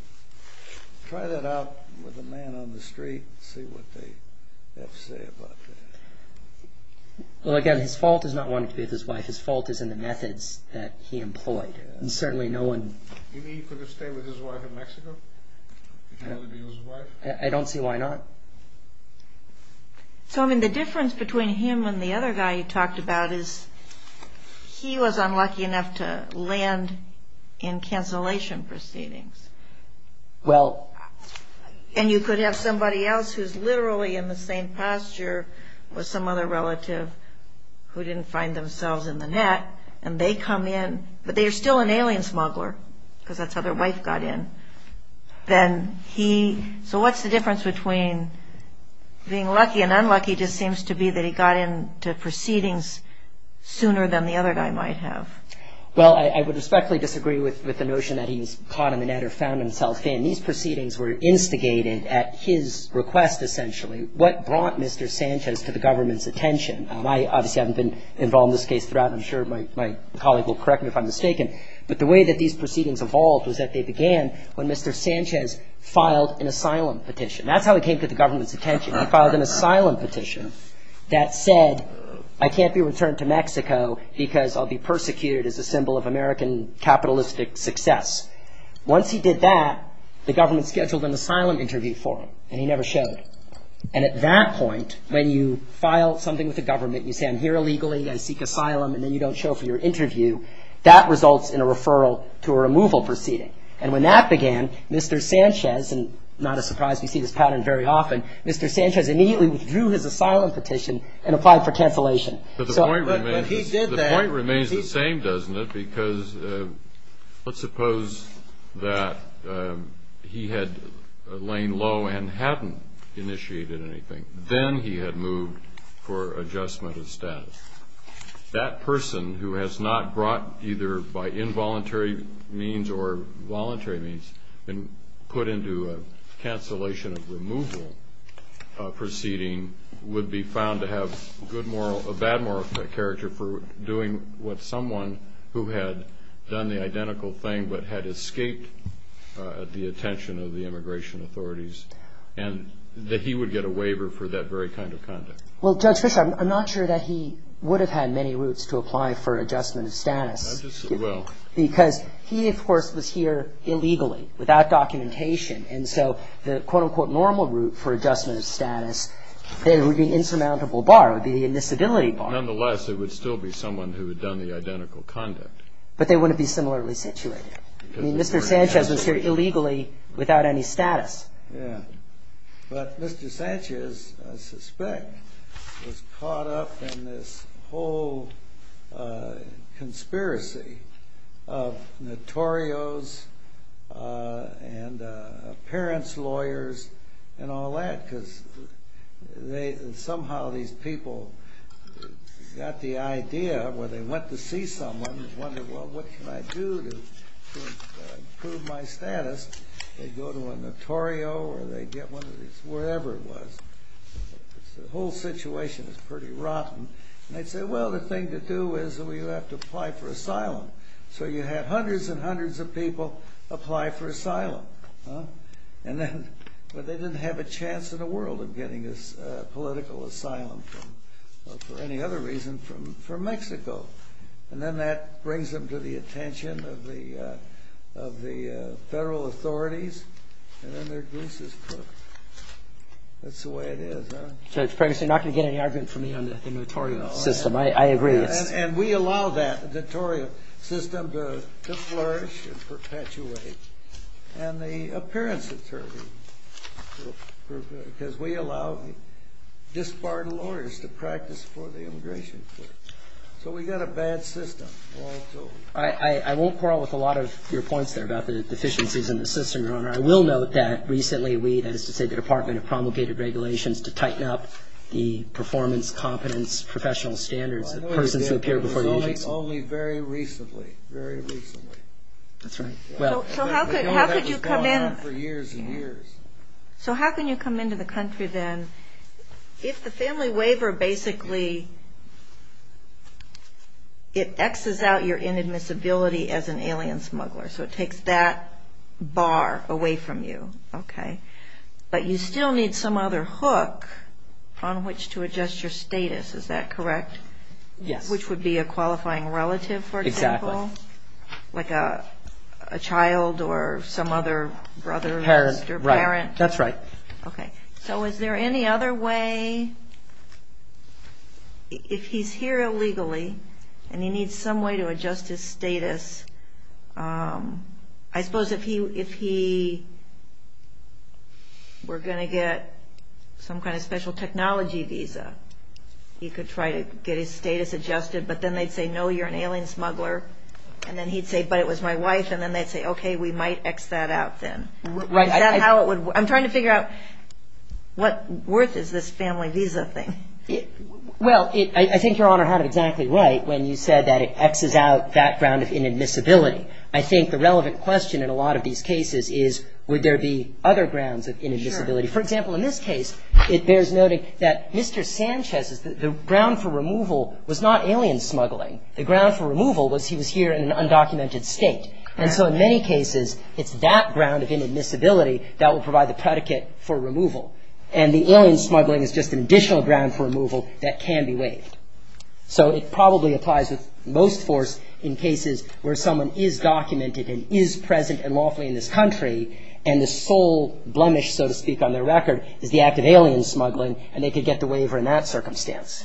Try that out with a man on the street and see what they have to say about that. Well, again, his fault is not wanting to be with his wife. His fault is in the methods that he employed. Do you mean he could have stayed with his wife in Mexico if he wanted to be with his wife? I don't see why not. So, I mean, the difference between him and the other guy you talked about is he was unlucky enough to land in cancellation proceedings. And you could have somebody else who's literally in the same posture with some other relative who didn't find themselves in the net, and they come in, but they're still an alien smuggler because that's how their wife got in. So what's the difference between being lucky and unlucky? It just seems to be that he got into proceedings sooner than the other guy might have. Well, I would respectfully disagree with the notion that he was caught in the net or found himself in. These proceedings were instigated at his request, essentially. What brought Mr. Sanchez to the government's attention? I obviously haven't been involved in this case throughout, and I'm sure my colleague will correct me if I'm mistaken, but the way that these proceedings evolved was that they began when Mr. Sanchez filed an asylum petition. That's how he came to the government's attention. He filed an asylum petition that said, I can't be returned to Mexico because I'll be persecuted as a symbol of American capitalistic success. Once he did that, the government scheduled an asylum interview for him, and he never showed. And at that point, when you file something with the government, you say, I'm here illegally, I seek asylum, and then you don't show for your interview, that results in a referral to a removal proceeding. And when that began, Mr. Sanchez, and not a surprise, we see this pattern very often, Mr. Sanchez immediately withdrew his asylum petition and applied for cancellation. But the point remains the same, doesn't it? Because let's suppose that he had lain low and hadn't initiated anything. Then he had moved for adjustment of status. That person, who has not brought either by involuntary means or voluntary means, been put into a cancellation of removal proceeding, would be found to have a bad moral character for doing what someone who had done the identical thing but had escaped the attention of the immigration authorities, and that he would get a waiver for that very kind of conduct. Well, Judge Fischer, I'm not sure that he would have had many routes to apply for adjustment of status. I'm just, well... Because he, of course, was here illegally, without documentation, and so the quote-unquote normal route for adjustment of status, there would be an insurmountable bar, it would be the admissibility bar. Nonetheless, it would still be someone who had done the identical conduct. But they wouldn't be similarly situated. I mean, Mr. Sanchez was here illegally without any status. Yeah. But Mr. Sanchez, I suspect, was caught up in this whole conspiracy of notorios and parents' lawyers and all that, because somehow these people got the idea where they went to see someone and wondered, well, what can I do to improve my status? They'd go to a notorio or they'd get one of these, wherever it was. The whole situation is pretty rotten. And they'd say, well, the thing to do is, well, you have to apply for asylum. So you had hundreds and hundreds of people apply for asylum. And then, well, they didn't have a chance in the world of getting this political asylum for any other reason from Mexico. And then that brings them to the attention of the federal authorities. And then their goose is cooked. That's the way it is, huh? Judge, perhaps you're not going to get any argument from me on the notorio system. I agree. And we allow that, the notorio system, to flourish and perpetuate. And the appearance attorney, because we allow disbarred lawyers to practice for the immigration court. So we've got a bad system, all told. I won't quarrel with a lot of your points there about the deficiencies in the system, Your Honor. I will note that recently we, that is to say the Department of Promulgated Regulations, to tighten up the performance, competence, professional standards of persons who appear before the U.S. Well, I know you did, but it was only very recently, very recently. That's right. So how could you come in? We know that was going on for years and years. So how can you come into the country then if the family waiver basically, it X's out your inadmissibility as an alien smuggler. So it takes that bar away from you. Okay. But you still need some other hook on which to adjust your status. Is that correct? Yes. Which would be a qualifying relative, for example. Exactly. Like a child or some other brother, sister, parent. Right. That's right. Okay. So is there any other way, if he's here illegally and he needs some way to adjust his status, I suppose if he were going to get some kind of special technology visa, he could try to get his status adjusted, but then they'd say, no, you're an alien smuggler. And then he'd say, but it was my wife, and then they'd say, okay, we might X that out then. Right. Is that how it would work? I'm trying to figure out what worth is this family visa thing. Well, I think Your Honor had it exactly right when you said that it X's out that ground of inadmissibility. I think the relevant question in a lot of these cases is would there be other grounds of inadmissibility. Sure. For example, in this case, it bears noting that Mr. Sanchez, the ground for removal was not alien smuggling. The ground for removal was he was here in an undocumented state. Correct. So in many cases, it's that ground of inadmissibility that will provide the predicate for removal. And the alien smuggling is just an additional ground for removal that can be waived. So it probably applies with most force in cases where someone is documented and is present and lawfully in this country, and the sole blemish, so to speak, on their record is the act of alien smuggling, and they could get the waiver in that circumstance.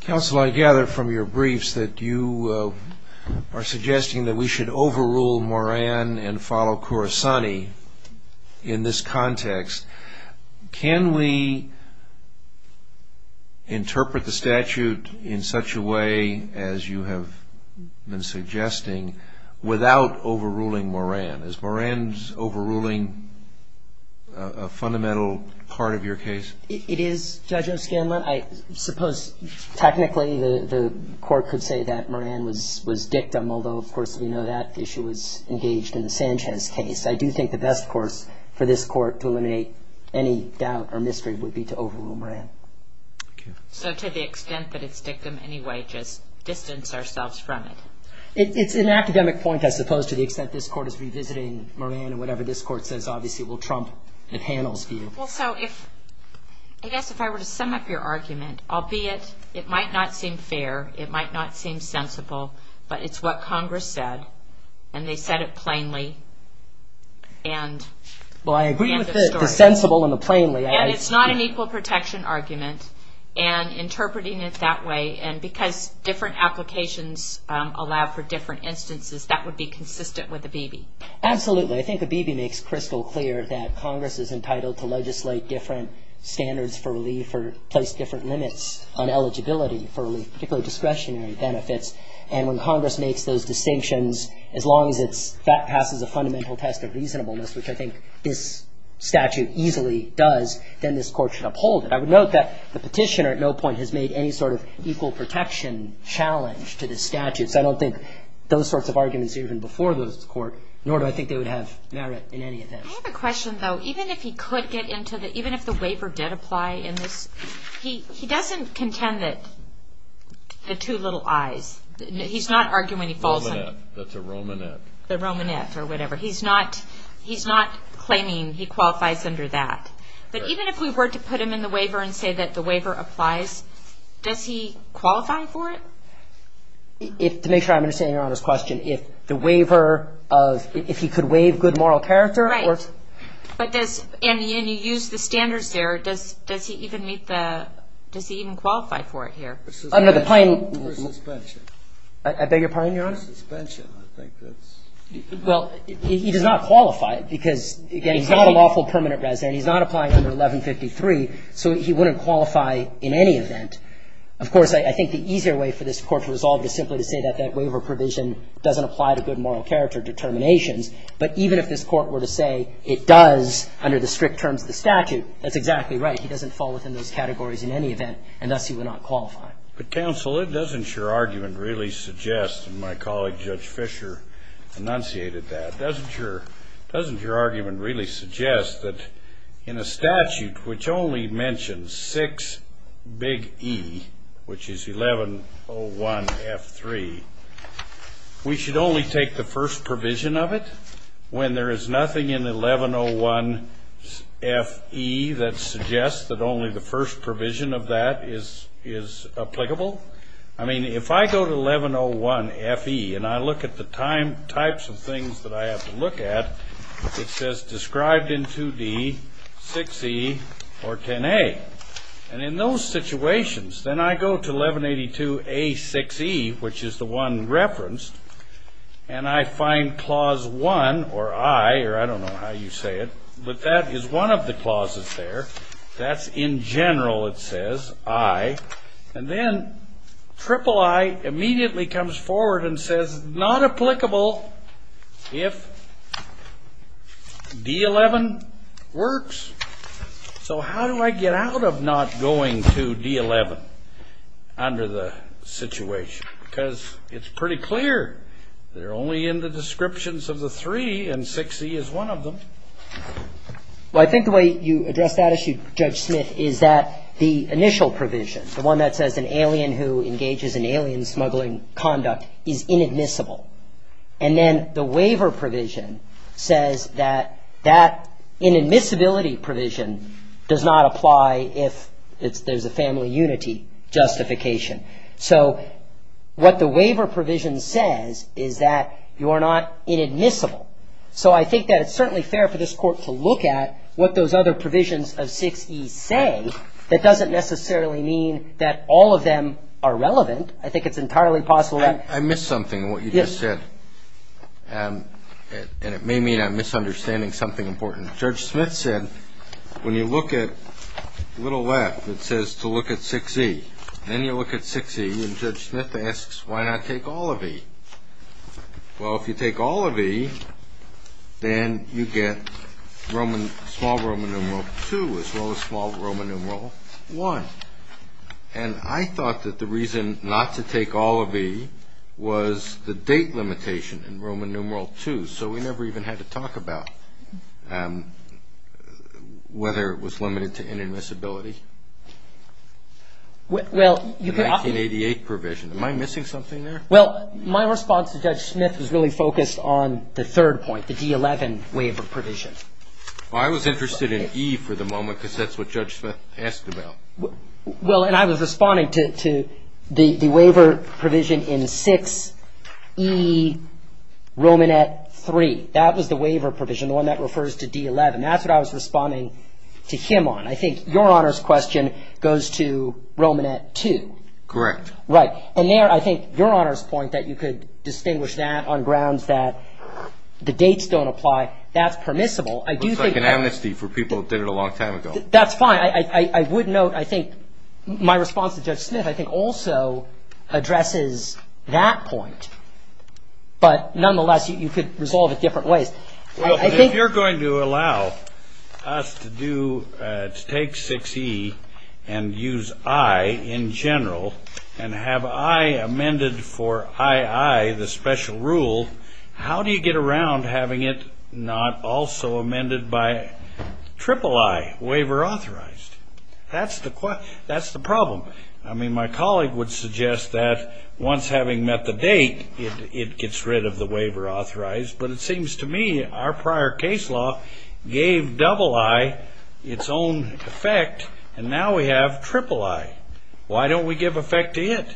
Counsel, I gather from your briefs that you are suggesting that we should overrule Moran and follow Khorasani in this context. Can we interpret the statute in such a way as you have been suggesting without overruling Moran? Is Moran's overruling a fundamental part of your case? It is, Judge O'Scanlan. I suppose technically the court could say that Moran was dictum, although of course we know that issue was engaged in the Sanchez case. I do think the best course for this court to eliminate any doubt or mystery would be to overrule Moran. So to the extent that it's dictum anyway, just distance ourselves from it? It's an academic point, I suppose, to the extent this court is revisiting Moran and whatever this court says obviously will trump the panel's view. Well, so I guess if I were to sum up your argument, albeit it might not seem fair, it might not seem sensible, but it's what Congress said, and they said it plainly. Well, I agree with the sensible and the plainly. And it's not an equal protection argument, and interpreting it that way, and because different applications allow for different instances, that would be consistent with ABB. Absolutely. I think ABB makes crystal clear that Congress is entitled to legislate different standards for relief or place different limits on eligibility for relief, particularly discretionary benefits. And when Congress makes those distinctions, as long as it passes a fundamental test of reasonableness, which I think this statute easily does, then this court should uphold it. I would note that the petitioner at no point has made any sort of equal protection challenge to this statute. So I don't think those sorts of arguments even before this court, nor do I think they would have merit in any event. I have a question, though. Even if he could get into the ‑‑ even if the waiver did apply in this, he doesn't contend that the two little I's. He's not arguing when he falls under it. Romanet. That's a Romanet. The Romanet or whatever. He's not claiming he qualifies under that. But even if we were to put him in the waiver and say that the waiver applies, does he qualify for it? To make sure I'm understanding Your Honor's question, if the waiver of ‑‑ if he could waive good moral character or ‑‑ Right. But does ‑‑ and you use the standards there. Does he even meet the ‑‑ does he even qualify for it here? Under the plain ‑‑ For suspension. Is that your point, Your Honor? For suspension. I think that's ‑‑ Well, he does not qualify because, again, he's not a lawful permanent resident. He's not applying under 1153. So he wouldn't qualify in any event. Of course, I think the easier way for this Court to resolve is simply to say that that waiver provision doesn't apply to good moral character determinations. But even if this Court were to say it does under the strict terms of the statute, that's exactly right. He doesn't fall within those categories in any event, and thus he would not qualify. But, counsel, it doesn't, your argument really suggests, and my colleague Judge Fischer enunciated that, doesn't your ‑‑ in a statute which only mentions six big E, which is 1101F3, we should only take the first provision of it when there is nothing in 1101FE that suggests that only the first provision of that is applicable? I mean, if I go to 1101FE and I look at the time ‑‑ types of things that I have to look at, it says described in two D, 6E, or 10A. And in those situations, then I go to 1182A6E, which is the one referenced, and I find Clause 1, or I, or I don't know how you say it, but that is one of the clauses there. That's in general, it says, I. And then III immediately comes forward and says, not applicable if D11 works. So how do I get out of not going to D11 under the situation? Because it's pretty clear they're only in the descriptions of the three, and 6E is one of them. Well, I think the way you address that issue, Judge Smith, is that the initial provision, the one that says an alien who engages in alien smuggling conduct is inadmissible. And then the waiver provision says that that inadmissibility provision does not apply if there's a family unity justification. So what the waiver provision says is that you are not inadmissible. So I think that it's certainly fair for this Court to look at what those other provisions of 6E say. That doesn't necessarily mean that all of them are relevant. I think it's entirely possible that. I missed something in what you just said, and it may mean I'm misunderstanding something important. Judge Smith said, when you look at little left, it says to look at 6E. Then you look at 6E, and Judge Smith asks, why not take all of E? Well, if you take all of E, then you get small Roman numeral 2 as well as small Roman numeral 1. And I thought that the reason not to take all of E was the date limitation in Roman numeral 2. So we never even had to talk about whether it was limited to inadmissibility. Well, you can often – The 1988 provision. Am I missing something there? Well, my response to Judge Smith was really focused on the third point, the D11 waiver provision. Well, I was interested in E for the moment, because that's what Judge Smith asked about. Well, and I was responding to the waiver provision in 6E Romanet 3. That was the waiver provision, the one that refers to D11. That's what I was responding to him on. I think Your Honor's question goes to Romanet 2. Correct. Right. And there, I think, Your Honor's point that you could distinguish that on grounds that the dates don't apply, that's permissible. It looks like an amnesty for people who did it a long time ago. That's fine. I would note, I think, my response to Judge Smith, I think, also addresses that point. But nonetheless, you could resolve it different ways. Well, if you're going to allow us to do – to take 6E and use I in general and have I amended for II, the special rule, how do you get around having it not also amended by III, waiver authorized? That's the problem. I mean, my colleague would suggest that once having met the date, it gets rid of the waiver authorized. But it seems to me our prior case law gave II its own effect, and now we have III. Why don't we give effect to it?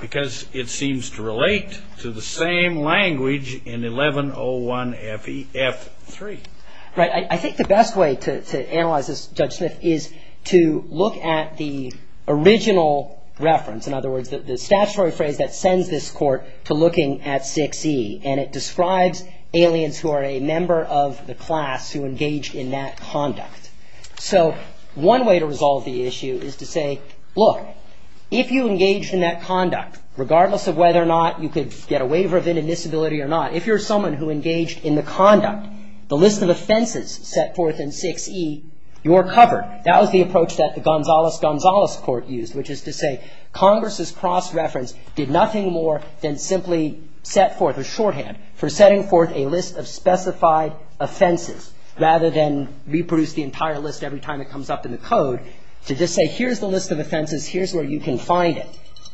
Because it seems to relate to the same language in 1101FEF3. Right. I think the best way to analyze this, Judge Smith, is to look at the original reference, in other words, the statutory phrase that sends this Court to looking at 6E. And it describes aliens who are a member of the class who engaged in that conduct. So one way to resolve the issue is to say, look, if you engaged in that conduct, regardless of whether or not you could get a waiver of inadmissibility or not, if you're someone who engaged in the conduct, the list of offenses set forth in 6E, you're covered. That was the approach that the Gonzales-Gonzales Court used, which is to say Congress's cross-reference did nothing more than simply set forth, or shorthand, for setting forth a list of specified offenses, rather than reproduce the entire list every time it comes up in the code, to just say here's the list of offenses, here's where you can find it.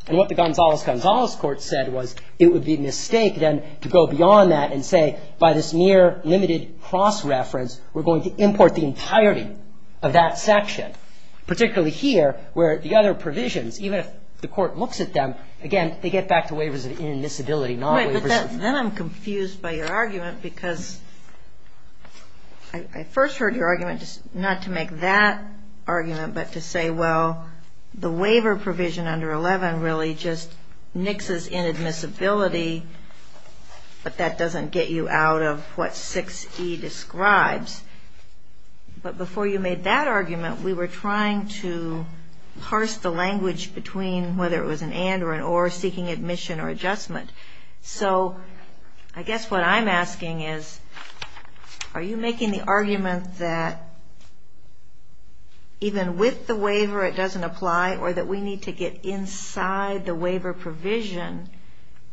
And what the Gonzales-Gonzales Court said was it would be a mistake, then, to go beyond that and say by this near limited cross-reference, we're going to import the entirety of that section, particularly here, where the other provisions, even if the Court looks at them, again, they get back to waivers of inadmissibility, not waivers of ---- Right. But then I'm confused by your argument, because I first heard your argument not to make that argument, but to say, well, the waiver provision under 11 really just nixes inadmissibility, but that doesn't get you out of what 6E describes. But before you made that argument, we were trying to parse the language between whether it was an and or an or, seeking admission or adjustment. So I guess what I'm asking is, are you making the argument that even with the waiver, it doesn't apply, or that we need to get inside the waiver provision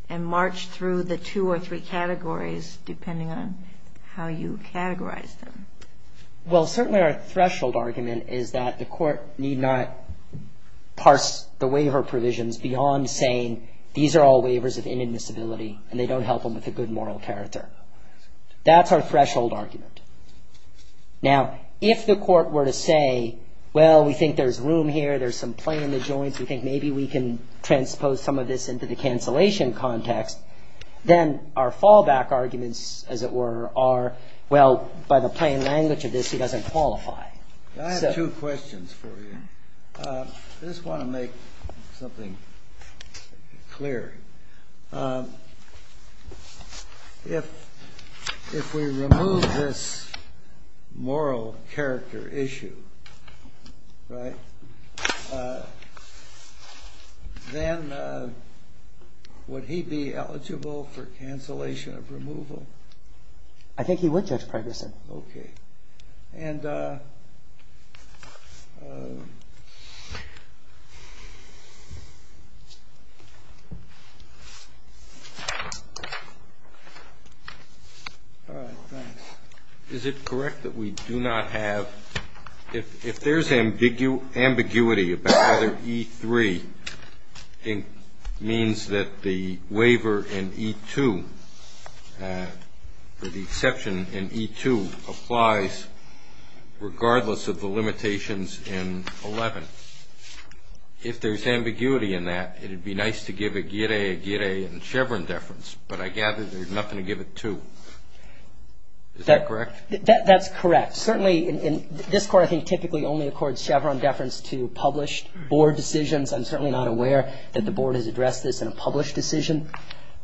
and march through the two or three categories, depending on how you categorize them? Well, certainly our threshold argument is that the Court need not parse the waiver provisions beyond saying these are all waivers of inadmissibility, and they don't help them with a good moral character. That's our threshold argument. Now, if the Court were to say, well, we think there's room here, there's some play in the joints, we think maybe we can transpose some of this into the cancellation context, then our fallback arguments, as it were, are, well, by the plain language of this, it doesn't qualify. I have two questions for you. I just want to make something clear. If we remove this moral character issue, right, then would he be eligible for cancellation of removal? I think he would, Judge Pregerson. Okay. All right, thanks. Is it correct that we do not have ‑‑ if there's ambiguity about whether E3 means that the waiver in E2, or the exception in E2, applies regardless of the limitations in 11? If there's ambiguity in that, it would be nice to give Aguirre a Guirre and Chevron deference, but I gather there's nothing to give it to. Is that correct? That's correct. Certainly, this Court, I think, typically only accords Chevron deference to published board decisions. I'm certainly not aware that the Board has addressed this in a published decision.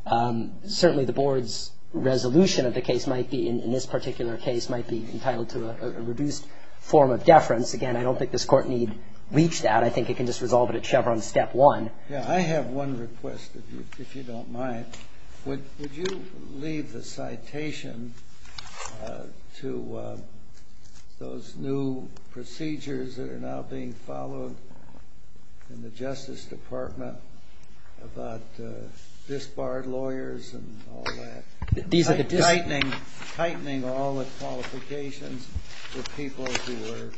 Certainly, the Board's resolution of the case might be, in this particular case, might be entitled to a reduced form of deference. Again, I don't think this Court need reach that. I think it can just resolve it at Chevron step one. Yeah, I have one request, if you don't mind. Would you leave the citation to those new procedures that are now being followed in the Justice Department about disbarred lawyers and all that, tightening all the qualifications for people who are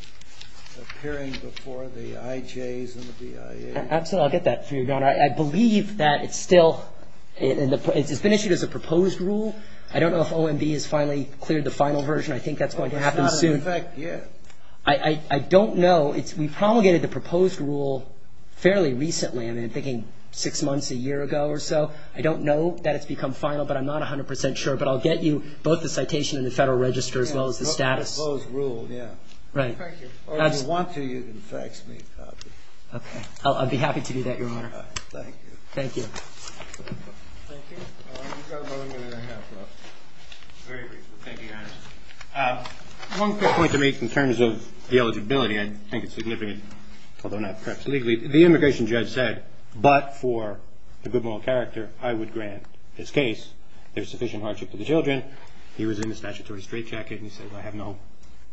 appearing before the IJs and the BIAs? Absolutely, I'll get that for you, Your Honor. I believe that it's still ‑‑ it's been issued as a proposed rule. I don't know if OMB has finally cleared the final version. I think that's going to happen soon. It's not in effect yet. I don't know. We promulgated the proposed rule fairly recently. I'm thinking six months, a year ago or so. I don't know that it's become final, but I'm not 100 percent sure. But I'll get you both the citation and the Federal Register as well as the status. Yeah, the proposed rule, yeah. Right. Or if you want to, you can fax me a copy. Okay. I'll be happy to do that, Your Honor. All right. Thank you. Thank you. Thank you. You've got another minute and a half left. Very briefly. Thank you, Your Honor. One quick point to make in terms of the eligibility. I think it's significant, although not perhaps legally. The immigration judge said, but for the good moral character, I would grant this case. There's sufficient hardship to the children. He was in a statutory straitjacket, and he said, I have no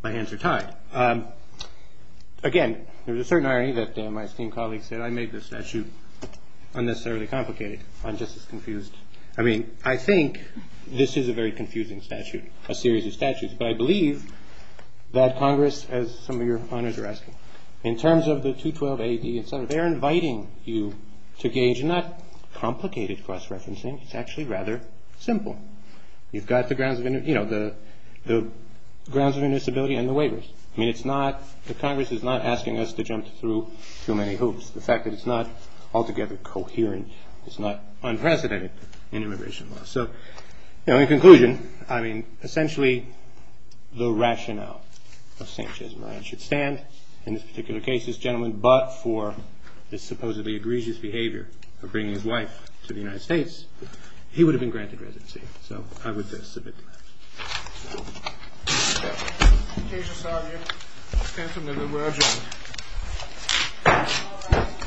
‑‑ my hands are tied. Again, there was a certain irony that my esteemed colleague said, I made this statute unnecessarily complicated. I'm just as confused. I mean, I think this is a very confusing statute, a series of statutes, but I believe that Congress, as some of your honors are asking, in terms of the 212AD and so on, they're inviting you to gauge not complicated cross referencing. It's actually rather simple. You've got the grounds of ‑‑ you know, the grounds of invisibility and the waivers. I mean, it's not ‑‑ the Congress is not asking us to jump through too many hoops. The fact that it's not altogether coherent is not unprecedented in immigration law. So, you know, in conclusion, I mean, essentially, the rationale of St. Jesmarine should stand. In this particular case, this gentleman, but for this supposedly egregious behavior of bringing his wife to the United States, he would have been granted residency. So I would submit to that.